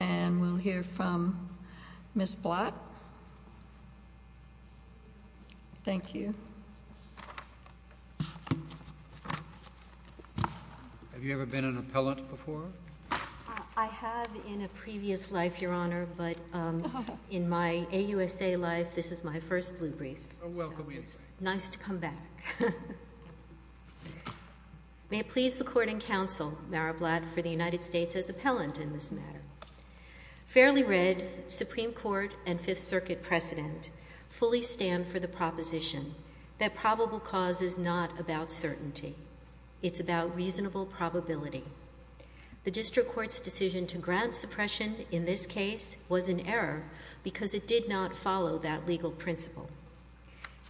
And we'll hear from Ms. Blatt. Thank you. Have you ever been an appellant before? I have in a previous life, Your Honor, but in my AUSA life, this is my first blue brief, so it's nice to come back. May it please the Court and Counsel, Mara Blatt, for the United States as appellant in this matter. Fairly read, Supreme Court and Fifth Circuit precedent fully stand for the proposition that probable cause is not about certainty. It's about reasonable probability. The district court's decision to grant suppression in this case was an error because it did not follow that legal principle.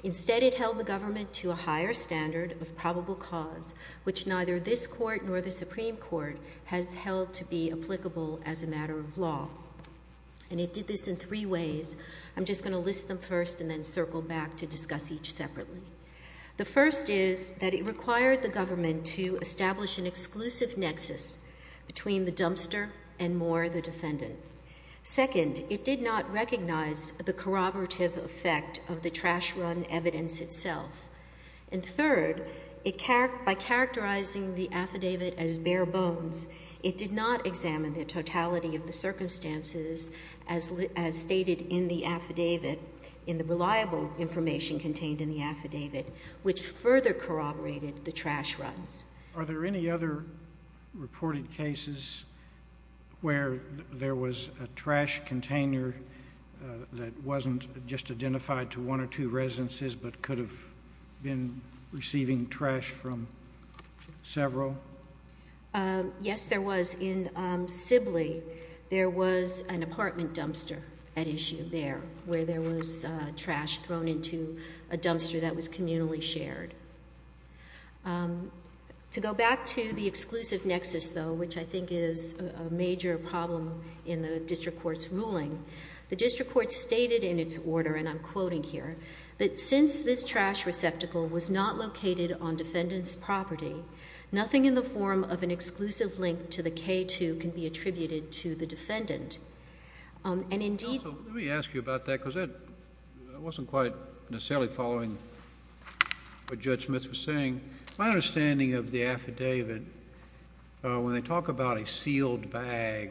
Instead, it held the government to a higher standard of probable cause, which neither this court nor the Supreme Court has held to be applicable as a matter of law. And it did this in three ways. I'm just going to list them first and then circle back to discuss each separately. The first is that it required the government to establish an exclusive nexus between the dumpster and Moore, the defendant. Second, it did not recognize the corroborative effect of the trash run evidence itself. And third, by characterizing the affidavit as bare bones, it did not examine the totality of the circumstances as stated in the affidavit, in the reliable information contained in the affidavit, which further corroborated the trash runs. Are there any other reported cases where there was a trash container that wasn't just identified to one or two residences, but could have been receiving trash from several? Yes, there was. In Sibley, there was an apartment dumpster at issue there, where there was trash thrown into a dumpster that was communally shared. To go back to the exclusive nexus, though, which I think is a major problem in the district court's ruling. The district court stated in its order, and I'm quoting here, that since this trash receptacle was not located on defendant's property, nothing in the form of an exclusive link to the K-2 can be attributed to the defendant. And indeed- Also, let me ask you about that, because I wasn't quite necessarily following what Judge Smith was saying. My understanding of the affidavit, when they talk about a sealed bag,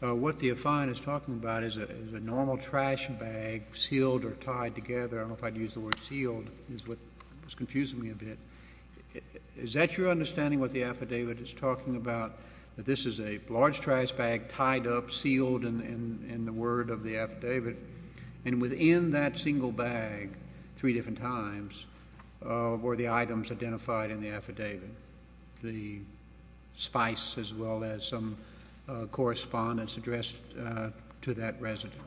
what the defiant is talking about is a normal trash bag, sealed or tied together. I don't know if I'd use the word sealed, it's confusing me a bit. Is that your understanding, what the affidavit is talking about, that this is a large trash bag, tied up, sealed in the word of the affidavit? And within that single bag, three different times, were the items identified in the affidavit? The spice, as well as some correspondence addressed to that residence.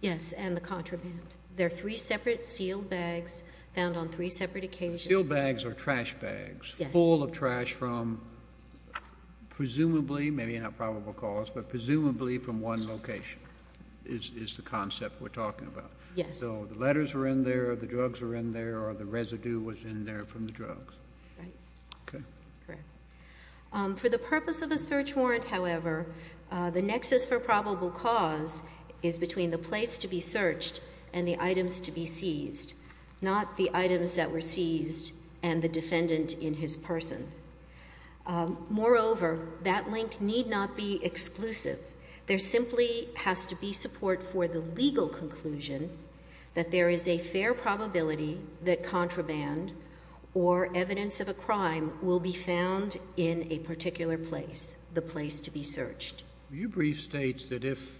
Yes, and the contraband. There are three separate sealed bags found on three separate occasions. Sealed bags are trash bags. Yes. Full of trash from presumably, maybe not probable cause, but that we're talking about. Yes. So the letters were in there, the drugs were in there, or the residue was in there from the drugs. Right. Okay. Correct. For the purpose of a search warrant, however, the nexus for probable cause is between the place to be searched and the items to be seized. Not the items that were seized and the defendant in his person. Moreover, that link need not be exclusive. There simply has to be support for the legal conclusion that there is a fair probability that contraband or evidence of a crime will be found in a particular place. The place to be searched. Your brief states that if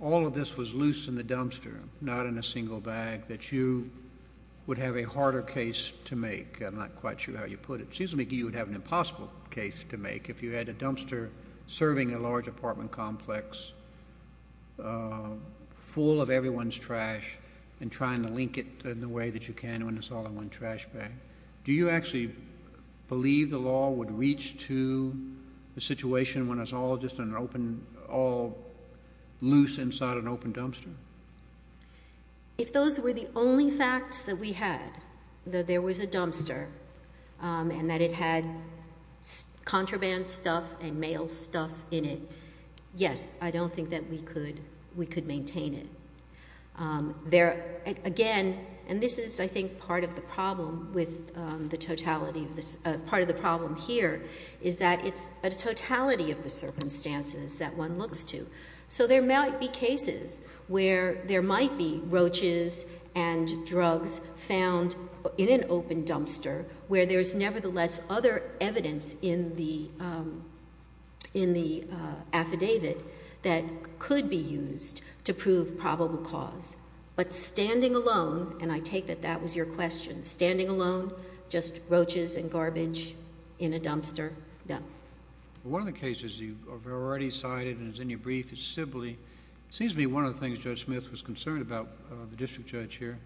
all of this was loose in the dumpster, not in a single bag, that you would have a harder case to make. I'm not quite sure how you put it. It seems to me you would have an impossible case to make if you had a dumpster serving a large apartment complex full of everyone's trash and trying to link it in the way that you can when it's all in one trash bag. Do you actually believe the law would reach to the situation when it's all just loose inside an open dumpster? If those were the only facts that we had, that there was a dumpster and that it had contraband stuff and mail stuff in it, yes, I don't think that we could maintain it. There, again, and this is, I think, part of the problem with the totality of this. Part of the problem here is that it's a totality of the circumstances that one looks to. So there might be cases where there might be roaches and that's other evidence in the affidavit that could be used to prove probable cause. But standing alone, and I take that that was your question, standing alone, just roaches and garbage in a dumpster, no. One of the cases you've already cited and is in your brief is Sibley. Seems to me one of the things Judge Smith was concerned about, the district judge here,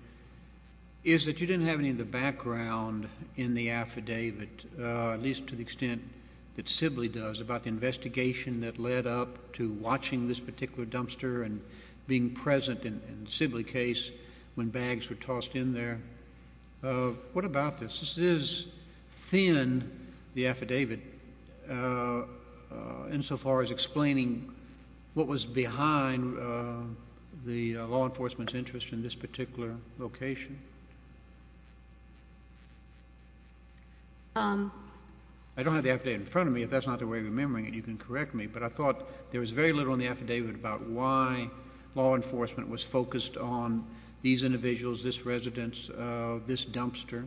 is that you didn't have any of the background in the affidavit, at least to the extent that Sibley does, about the investigation that led up to watching this particular dumpster and being present in Sibley case when bags were tossed in there. What about this? This is thin, the affidavit, in so far as explaining what was behind the law enforcement's interest in this particular location? I don't have the affidavit in front of me. If that's not the way you're remembering it, you can correct me. But I thought there was very little in the affidavit about why law enforcement was focused on these individuals, this residence, this dumpster.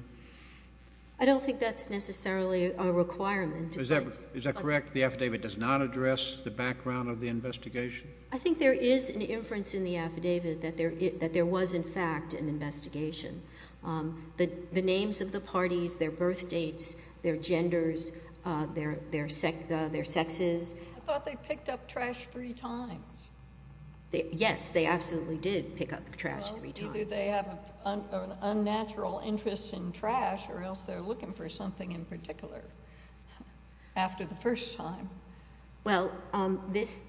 I don't think that's necessarily a requirement. Is that correct, the affidavit does not address the background of the investigation? I think there is an inference in the affidavit that there was, in fact, an investigation. The names of the parties, their birth dates, their genders, their sexes. I thought they picked up trash three times. Yes, they absolutely did pick up trash three times. Well, either they have an unnatural interest in trash or else they're looking for something in particular after the first time. Well, this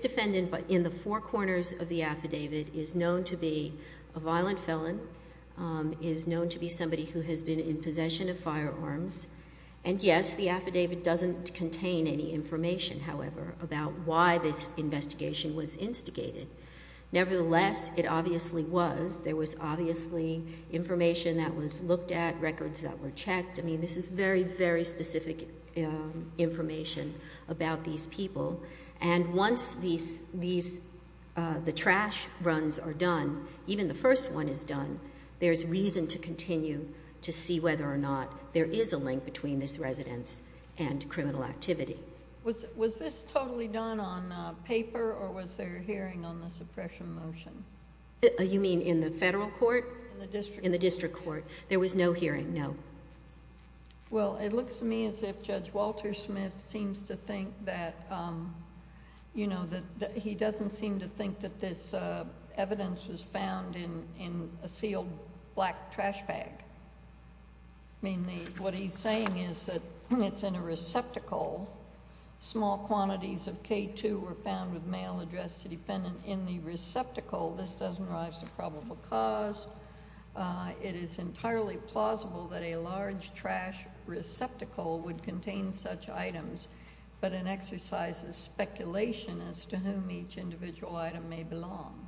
defendant in the four corners of the affidavit is known to be a violent felon. Is known to be somebody who has been in possession of firearms. And yes, the affidavit doesn't contain any information, however, about why this investigation was instigated. Nevertheless, it obviously was. There was obviously information that was looked at, records that were checked. I mean, this is very, very specific information about these people. And once the trash runs are done, even the first one is done, there's reason to continue to see whether or not there is a link between this residence and criminal activity. Was this totally done on paper or was there a hearing on the suppression motion? You mean in the federal court? In the district court. In the district court. There was no hearing, no. Well, it looks to me as if Judge Walter Smith seems to think that, you know, that he doesn't seem to think that this evidence was found in a sealed black trash bag. I mean, what he's saying is that it's in a receptacle. Small quantities of K2 were found with mail addressed to defendant in the receptacle. This doesn't rise to probable cause. It is entirely plausible that a large trash receptacle would contain such items. But an exercise is speculation as to whom each individual item may belong.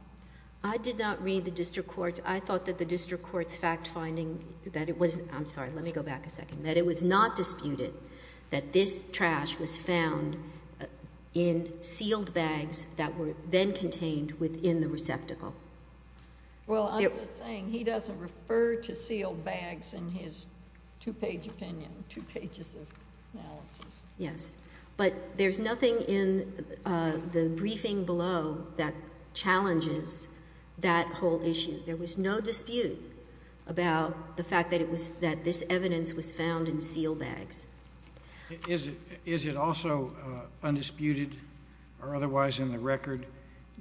I did not read the district court. I thought that the district court's fact finding that it was, I'm sorry, let me go back a second. That it was not disputed that this trash was found in sealed bags that were then contained within the receptacle. Well, I'm just saying he doesn't refer to sealed bags in his two page opinion, two pages of analysis. Yes, but there's nothing in the briefing below that challenges that whole issue. There was no dispute about the fact that it was, that this evidence was found in sealed bags. Is it also undisputed or otherwise in the record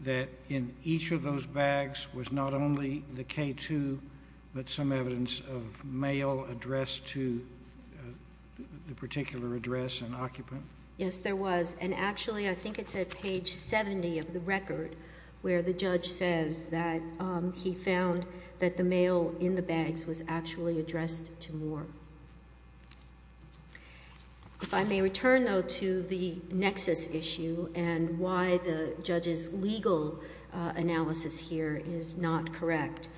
that in each of those bags was not only the K2, but some evidence of mail addressed to the particular address and occupant? Yes, there was. And actually, I think it's at page 70 of the record, where the judge says that he found that the mail in the bags was actually addressed to Moore. If I may return, though, to the nexus issue and why the judge's legal analysis here is not correct.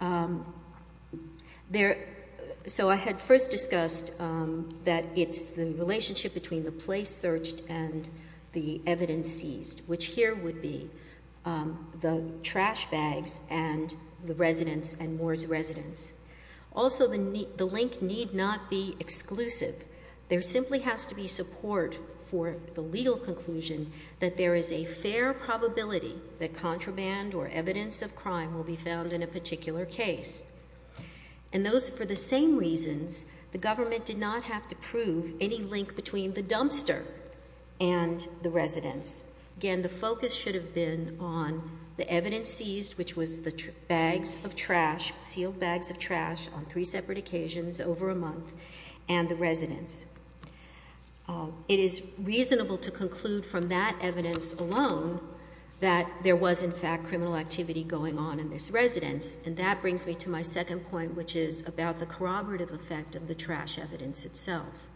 So I had first discussed that it's the relationship between the place searched and the evidence seized, which here would be the trash bags and the residents and Moore's residents. Also, the link need not be exclusive. There simply has to be support for the legal conclusion that there is a fair probability that contraband or evidence of crime will be found in a particular case. And those, for the same reasons, the government did not have to prove any link between the dumpster and the residents. Again, the focus should have been on the evidence seized, which was the bags of trash, sealed bags of trash on three separate occasions over a month, and the residents. It is reasonable to conclude from that evidence alone that there was, in fact, criminal activity going on in this residence. And that brings me to my second point, which is about the corroborative effect of the trash evidence itself.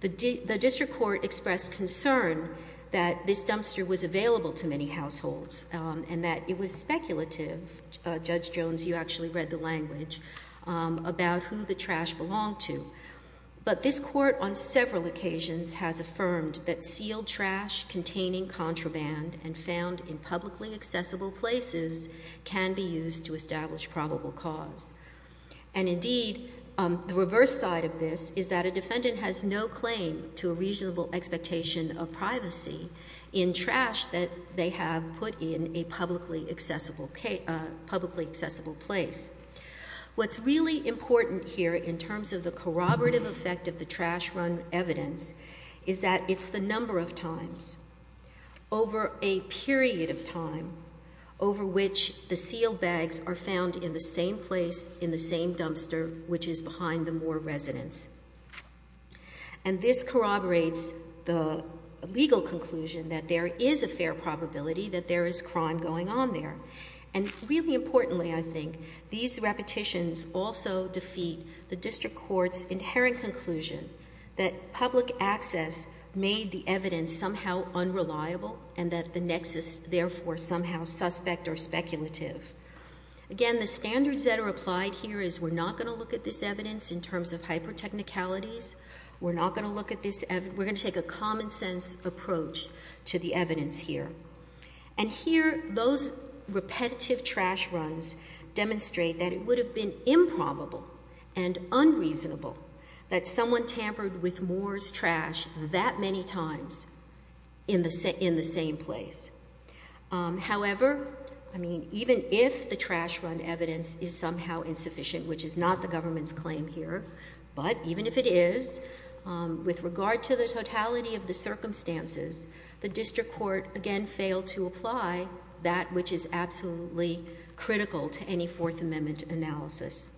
The district court expressed concern that this dumpster was available to many households and that it was speculative, Judge Jones, you actually read the language, about who the trash belonged to. But this court on several occasions has affirmed that sealed trash containing contraband and found in publicly accessible places can be used to establish probable cause. And indeed, the reverse side of this is that a defendant has no claim to a reasonable expectation of privacy in trash that they have put in a publicly accessible place. What's really important here, in terms of the corroborative effect of the trash run evidence, is that it's the number of times over a period of time over which the sealed bags are found in the same place, in the same dumpster, which is behind the Moore residence. And this corroborates the legal conclusion that there is a fair probability that there is crime going on there. And really importantly, I think, these repetitions also defeat the district court's inherent conclusion that public access made the evidence somehow unreliable and that the nexus, therefore, somehow suspect or speculative. Again, the standards that are applied here is we're not going to look at this evidence in terms of hyper technicalities. We're not going to look at this, we're going to take a common sense approach to the evidence here. And here, those repetitive trash runs demonstrate that it would have been improbable and could have been found in the same place, however, even if the trash run evidence is somehow insufficient, which is not the government's claim here, but even if it is, with regard to the totality of the circumstances, the district court again failed to apply that which is absolutely critical to any Fourth Amendment analysis.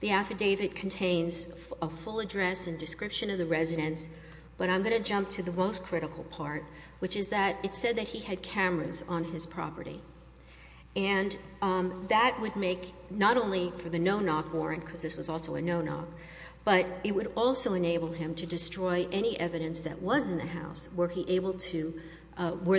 The affidavit contains a full address and description of the residence, but I'm going to jump to the most critical part, which is that it said that he had cameras on his property. And that would make, not only for the no-knock warrant, because this was also a no-knock, but it would also enable him to destroy any evidence that was in the house, were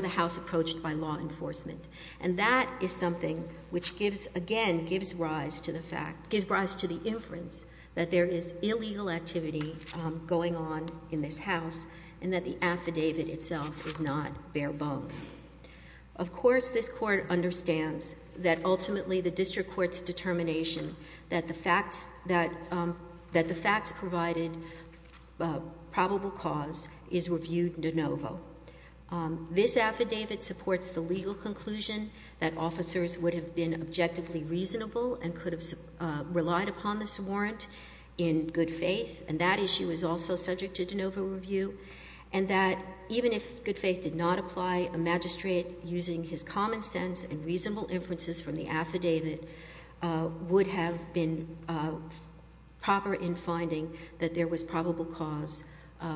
the house approached by law enforcement. And that is something which, again, gives rise to the inference that there is illegal activity going on in this house and that the affidavit itself is not bare bones. Of course, this court understands that ultimately the district court's determination that the facts provided probable cause is reviewed de novo. This affidavit supports the legal conclusion that officers would have been objectively reasonable and could have relied upon this warrant in good faith, and that issue is also subject to de novo review. And that even if good faith did not apply, a magistrate using his common sense and reasonable inferences from the affidavit would have been proper in finding that there was probable cause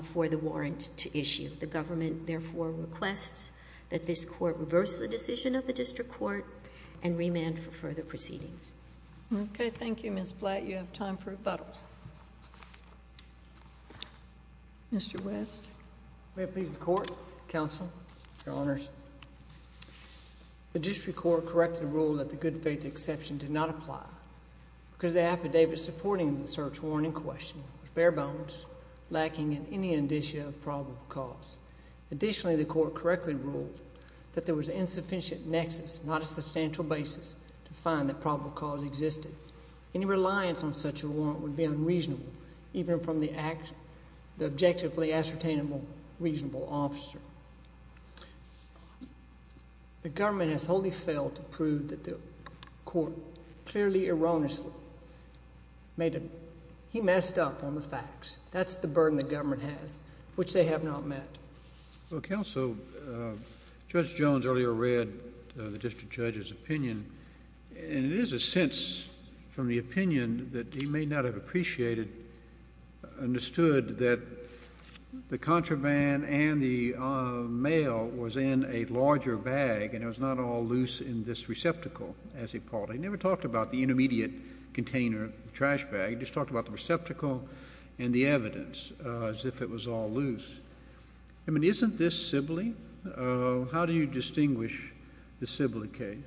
for the warrant to issue. The government therefore requests that this court reverse the decision of the district court and remand for further proceedings. Okay, thank you, Ms. Blatt. You have time for rebuttal. Mr. West? May it please the court, counsel, your honors. The district court correctly ruled that the good faith exception did not apply because the affidavit supporting the search warrant in question was bare bones, lacking in any indicia of probable cause. Additionally, the court correctly ruled that there was insufficient nexus, not a substantial basis to find that probable cause existed. Any reliance on such a warrant would be unreasonable, even from the objectively ascertainable reasonable officer. The government has wholly failed to prove that the court clearly erroneously made a, he messed up on the facts, that's the burden the government has, which they have not met. Well, counsel, Judge Jones earlier read the district judge's opinion, and it is a sense from the opinion that he may not have appreciated, understood that the contraband and the mail was in a larger bag, and it was not all loose in this receptacle, as he called it. He never talked about the intermediate container, the trash bag. He just talked about the receptacle and the evidence, as if it was all loose. I mean, isn't this Sibley? How do you distinguish the Sibley case?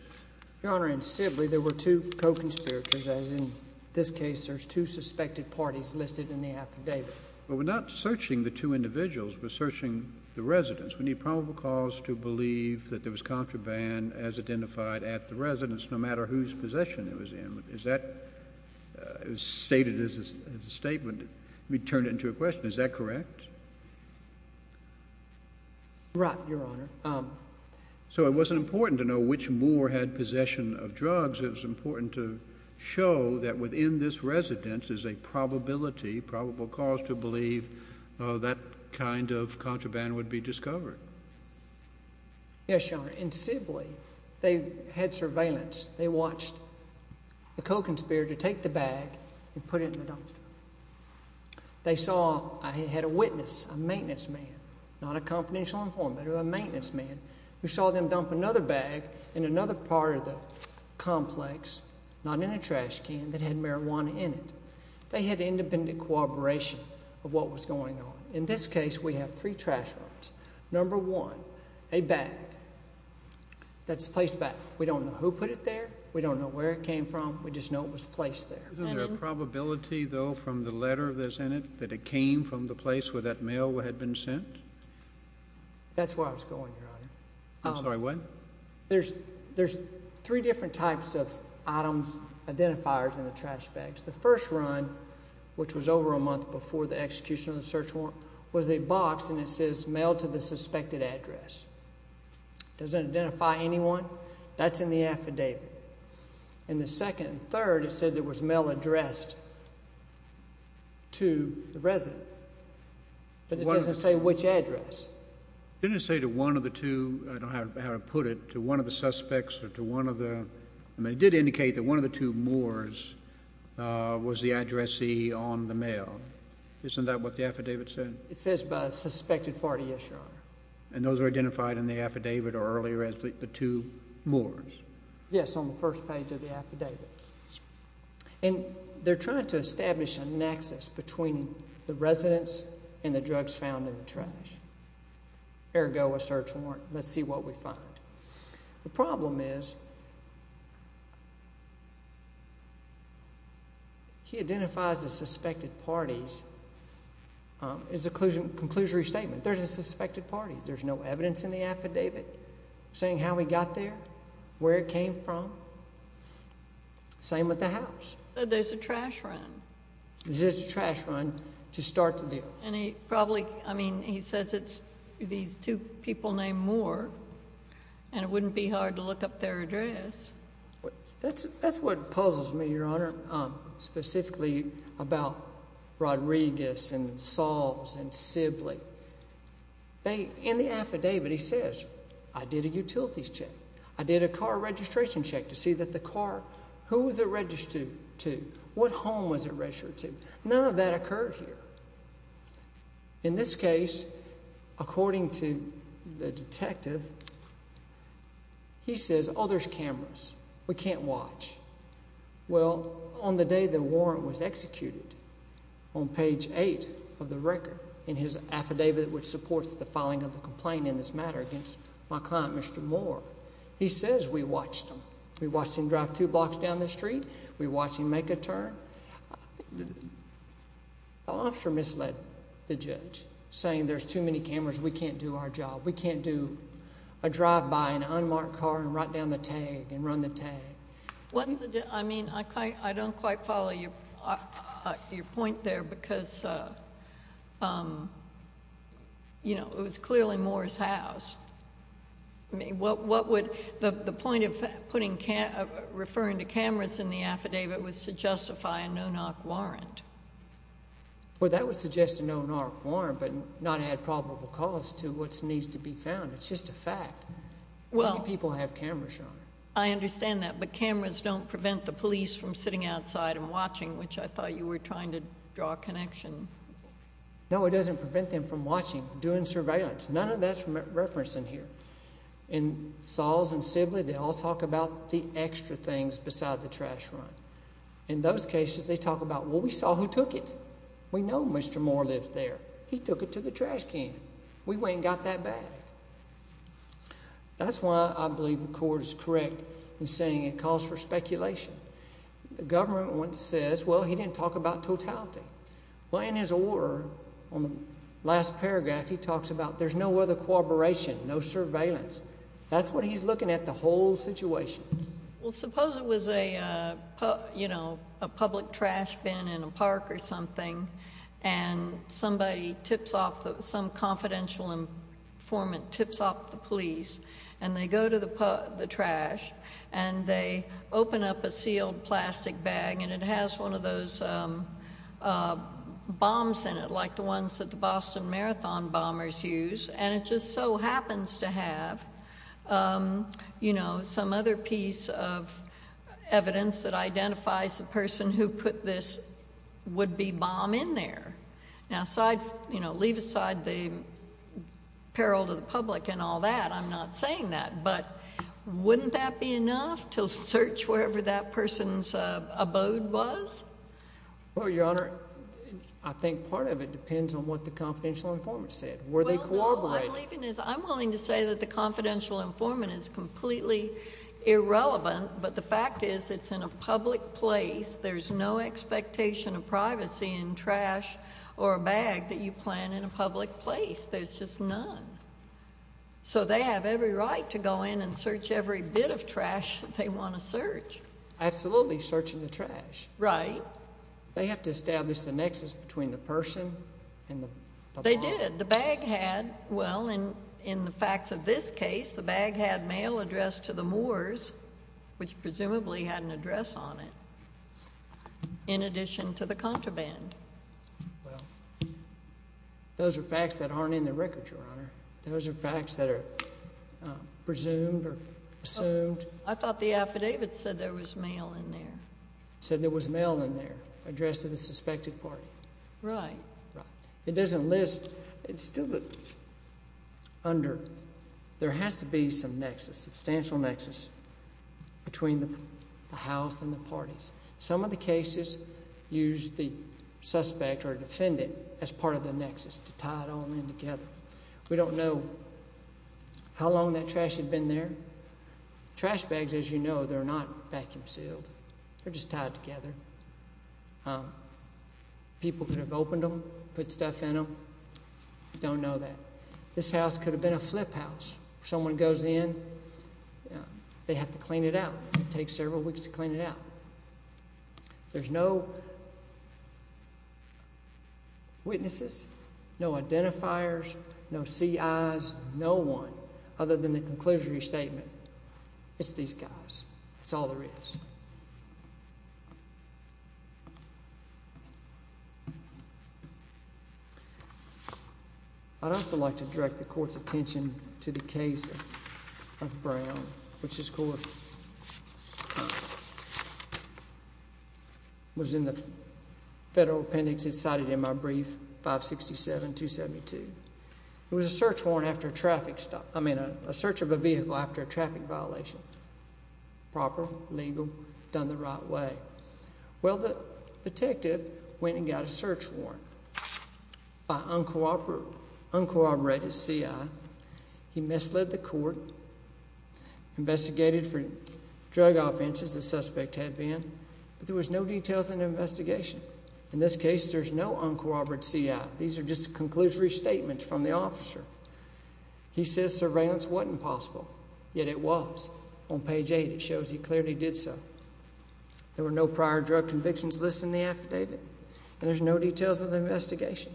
Your Honor, in Sibley there were two co-conspirators, as in this case there's two suspected parties listed in the affidavit. Well, we're not searching the two individuals, we're searching the residents. We need probable cause to believe that there was contraband as identified at the residence, no matter whose possession it was in. Is that stated as a statement? We turn it into a question, is that correct? Right, Your Honor. So it wasn't important to know which Moore had possession of drugs, it was important to show that within this residence is a probability, probable cause to believe that kind of contraband would be discovered. Yes, Your Honor. In Sibley, they had surveillance. They watched the co-conspirator take the bag and put it in the dumpster. They saw I had a witness, a maintenance man, not a confidential informant, but a maintenance man, who saw them dump another bag in another part of the complex, not in a trash can, that had marijuana in it. They had independent cooperation of what was going on. In this case, we have three trash runs. Number one, a bag that's placed back. We don't know who put it there. We don't know where it came from. We just know it was placed there. Isn't there a probability, though, from the letter that's in it, that it came from the place where that mail had been sent? That's where I was going, Your Honor. I'm sorry, what? There's three different types of items, identifiers, in the trash bags. The first run, which was over a month before the execution of the search warrant, was a box, and it says, mail to the suspected address. It doesn't identify anyone. That's in the affidavit. And the second and third, it said there was mail addressed to the resident. But it doesn't say which address. Didn't it say to one of the two, I don't know how to put it, to one of the suspects or to one of the, I mean, it did indicate that one of the two Moors was the addressee on the mail. Isn't that what the affidavit said? It says by a suspected party, yes, Your Honor. And those are identified in the affidavit or earlier as the two Moors. Yes, on the first page of the affidavit. And they're trying to establish a nexus between the residents and the drugs found in the trash. Ergo, a search warrant. Let's see what we find. The problem is, he identifies the suspected parties. His conclusion, conclusory statement, there's a suspected party. There's no evidence in the affidavit. Saying how he got there, where it came from. Same with the house. So there's a trash run. There's a trash run to start the deal. And he probably, I mean, he says it's these two people named Moore. And it wouldn't be hard to look up their address. That's what puzzles me, Your Honor, specifically about Rodriguez and Salves and Sibley. They, in the affidavit, he says, I did a utilities check. I did a car registration check to see that the car, who was it registered to? What home was it registered to? None of that occurred here. In this case, according to the detective, he says, oh, there's cameras. We can't watch. Well, on the day the warrant was executed, on page eight of the record in his affidavit, which supports the filing of the complaint in this matter against my client, Mr. Moore, he says we watched him. We watched him drive two blocks down the street. We watched him make a turn. The officer misled the judge, saying there's too many cameras. We can't do our job. We can't do a drive-by, an unmarked car, and write down the tag, and run the tag. I mean, I don't quite follow your point there, because it was clearly Moore's house. What would the point of referring to cameras in the affidavit was to justify a no-knock warrant? Well, that would suggest a no-knock warrant, but not add probable cause to what needs to be found. It's just a fact. How many people have cameras on them? I understand that. But cameras don't prevent the police from sitting outside and watching, which I thought you were trying to draw a connection. No, it doesn't prevent them from watching, doing surveillance. None of that's referenced in here. In Saul's and Sibley, they all talk about the extra things beside the trash run. In those cases, they talk about, well, we saw who took it. We know Mr. Moore lives there. He took it to the trash can. We ain't got that bad. That's why I believe the court is correct in saying it calls for speculation. The government once says, well, he didn't talk about totality. Well, in his order, on the last paragraph, he talks about there's no other corroboration, no surveillance. That's what he's looking at, the whole situation. Well, suppose it was a public trash bin in a park or something, and somebody tips off, some confidential informant tips off the police. And they go to the trash. And they open up a sealed plastic bag. And it has one of those bombs in it, like the ones that the Boston Marathon bombers use. And it just so happens to have some other piece of evidence that identifies the person who put this would-be bomb in there. Now, leave aside the peril to the public and all that. I'm not saying that. But wouldn't that be enough to search wherever that person's abode was? Well, Your Honor, I think part of it depends on what the confidential informant said. Were they corroborating? I'm willing to say that the confidential informant is completely irrelevant. But the fact is, it's in a public place. There's no expectation of privacy in trash or a bag that you plan in a public place. There's just none. So they have every right to go in and search every bit of trash that they want to search. Absolutely, searching the trash. Right. They have to establish the nexus between the person and the bomb. They did. The bag had, well, in the facts of this case, the bag had mail addressed to the Moors, which presumably had an address on it, in addition to the contraband. Well, those are facts that aren't in the record, Your Honor. Those are facts that are presumed or assumed. I thought the affidavit said there was mail in there. Said there was mail in there addressed to the suspected party. Right. It doesn't list. It's still under. There has to be some nexus, substantial nexus, between the house and the parties. Some of the cases used the suspect or defendant as part of the nexus to tie it all in together. We don't know how long that trash had been there. Trash bags, as you know, they're not vacuum sealed. They're just tied together. People could have opened them, put stuff in them. We don't know that. This house could have been a flip house. Someone goes in, they have to clean it out. It takes several weeks to clean it out. There's no witnesses, no identifiers, no CIs, no one, other than the conclusory statement. It's these guys. That's all there is. And to the case of Brown, which was in the federal appendix it's cited in my brief, 567-272. It was a search warrant after a traffic stop. I mean, a search of a vehicle after a traffic violation. Proper, legal, done the right way. Well, the detective went and got a search warrant by uncooperative CI. He misled the court, investigated for drug offenses the suspect had been. There was no details in the investigation. In this case, there's no uncooperative CI. These are just conclusory statements from the officer. He says surveillance wasn't possible, yet it was. On page eight, it shows he clearly did so. There were no prior drug convictions listed in the affidavit. And there's no details of the investigation.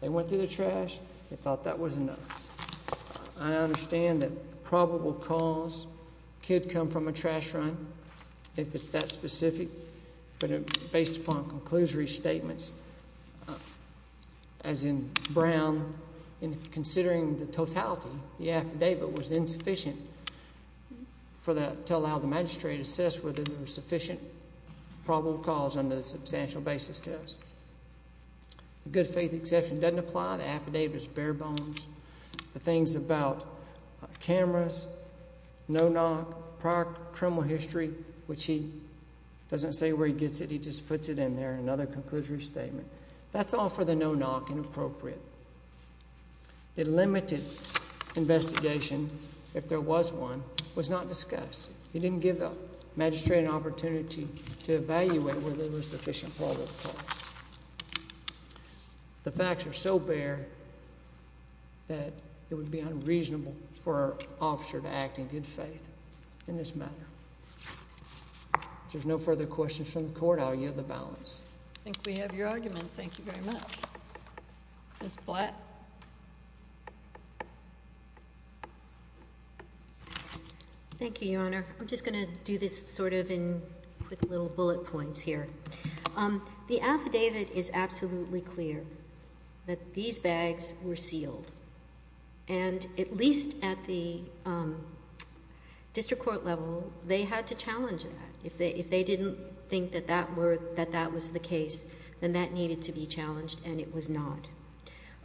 They went through the trash. They thought that was enough. And I understand that probable cause could come from a trash run, if it's that specific. But based upon conclusory statements, as in Brown, considering the totality, the affidavit was insufficient to allow the magistrate to assess whether there were sufficient probable cause under the substantial basis test. Good faith exception doesn't apply. The affidavit is bare bones. The things about cameras, no knock, prior criminal history, which he doesn't say where he gets it. He just puts it in there, another conclusory statement. That's all for the no knock, inappropriate. The limited investigation, if there was one, was not discussed. He didn't give the magistrate an opportunity to evaluate whether there was sufficient probable cause. The facts are so bare that it would be unreasonable for an officer to act in good faith in this matter. If there's no further questions from the court, I'll yield the balance. I think we have your argument. Thank you very much. Ms. Blatt. Thank you, Your Honor. I'm just going to do this sort of in quick little bullet points here. The affidavit is absolutely clear that these bags were sealed. And at least at the district court level, they had to challenge that. If they didn't think that that was the case, then that needed to be challenged, and it was not.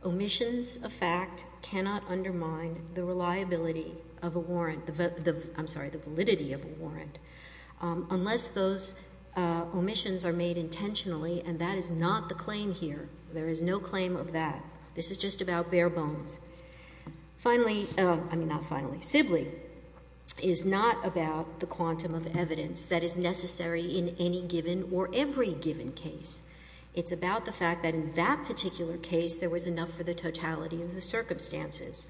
Omissions of fact cannot undermine the reliability of a warrant, I'm sorry, the validity of a warrant, unless those omissions are made intentionally. And that is not the claim here. There is no claim of that. This is just about bare bones. Finally, I mean, not finally, Sibley is not about the quantum of evidence that is necessary in any given or every given case. It's about the fact that in that particular case, there was enough for the totality of the circumstances.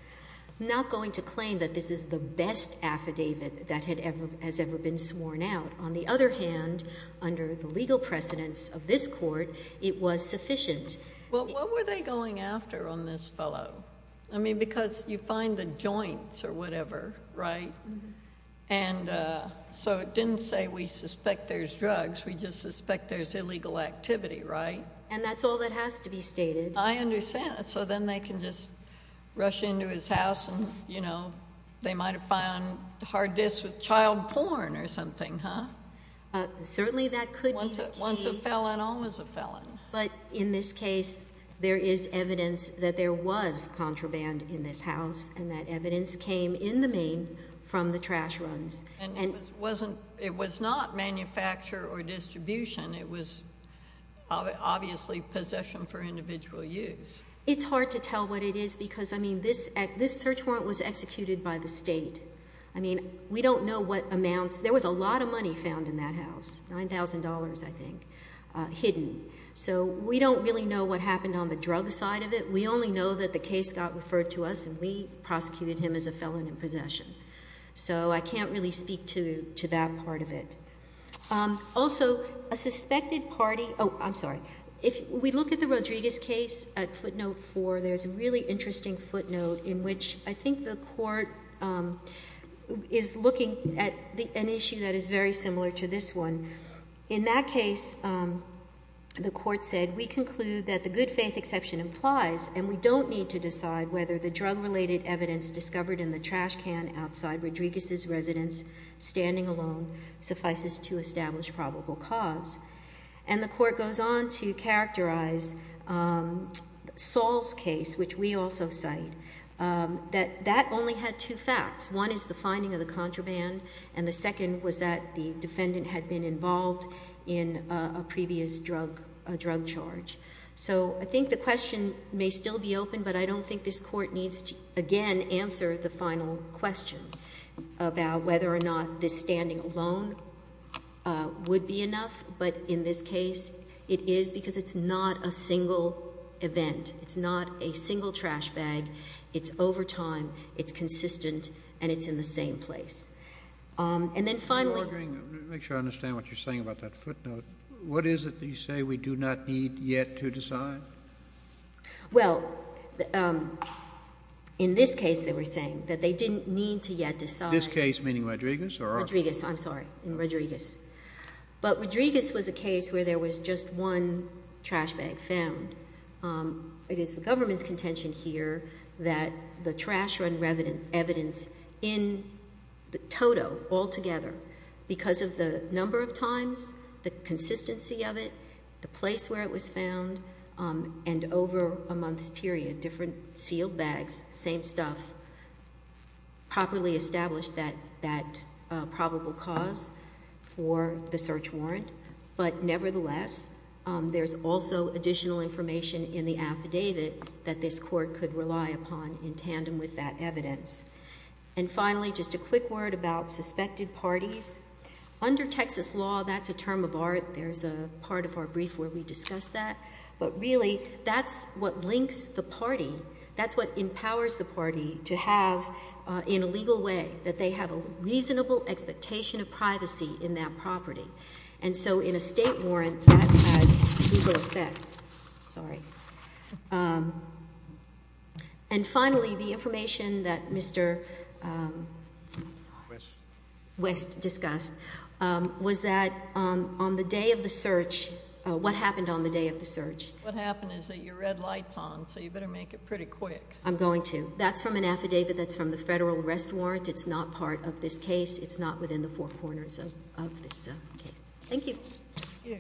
Not going to claim that this is the best affidavit that has ever been sworn out. On the other hand, under the legal precedents of this court, it was sufficient. Well, what were they going after on this fellow? I mean, because you find the joints or whatever, right? And so it didn't say we suspect there's drugs. We just suspect there's illegal activity, right? And that's all that has to be stated. I understand. So then they can just rush into his house and they might have found hard disks with child porn or something, huh? Certainly that could be the case. Once a felon, always a felon. But in this case, there is evidence that there was contraband in this house. And that evidence came in the main from the trash runs. And it was not manufacture or distribution. It was obviously possession for individual use. It's hard to tell what it is. Because I mean, this search warrant was executed by the state. I mean, we don't know what amounts. There was a lot of money found in that house, $9,000, I think, hidden. So we don't really know what happened on the drug side of it. We only know that the case got referred to us and we prosecuted him as a felon in possession. So I can't really speak to that part of it. Also, a suspected party, oh, I'm sorry. If we look at the Rodriguez case at footnote four, there's a really interesting footnote in which I think the court is looking at an issue that is very similar to this one. In that case, the court said, we conclude that the good faith exception implies and we don't need to decide whether the drug-related evidence discovered in the trash can outside Rodriguez's residence, standing alone, suffices to establish probable cause. And the court goes on to characterize Saul's case, which we also cite, that that only had two facts. One is the finding of the contraband and the second was that the defendant had been involved in a previous drug charge. So I think the question may still be open, but I don't think this court needs to, again, answer the final question about whether or not this standing alone would be enough. But in this case, it is because it's not a single event. It's not a single trash bag. It's over time, it's consistent, and it's in the same place. And then finally- I'm just wondering, make sure I understand what you're saying about that footnote. What is it that you say we do not need yet to decide? Well, in this case, they were saying that they didn't need to yet decide- This case, meaning Rodriguez or- Rodriguez, I'm sorry, in Rodriguez. But Rodriguez was a case where there was just one trash bag found. It is the government's contention here that the trash run evidence in the toto altogether, because of the number of times, the consistency of it, the place where it was found, and over a month's period, different sealed bags, same stuff, properly established that probable cause for the search warrant. But nevertheless, there's also additional information in the affidavit that this court could rely upon in tandem with that evidence. And finally, just a quick word about suspected parties. Under Texas law, that's a term of art. There's a part of our brief where we discuss that. But really, that's what links the party. That's what empowers the party to have, in a legal way, that they have a reasonable expectation of privacy in that property. And so, in a state warrant, that has legal effect. Sorry. And finally, the information that Mr. West discussed was that on the day of the search, what happened on the day of the search? What happened is that your red light's on, so you better make it pretty quick. I'm going to. That's from an affidavit that's from the Federal Arrest Warrant. It's not part of this case. It's not within the four corners of this case. Thank you. Thank you.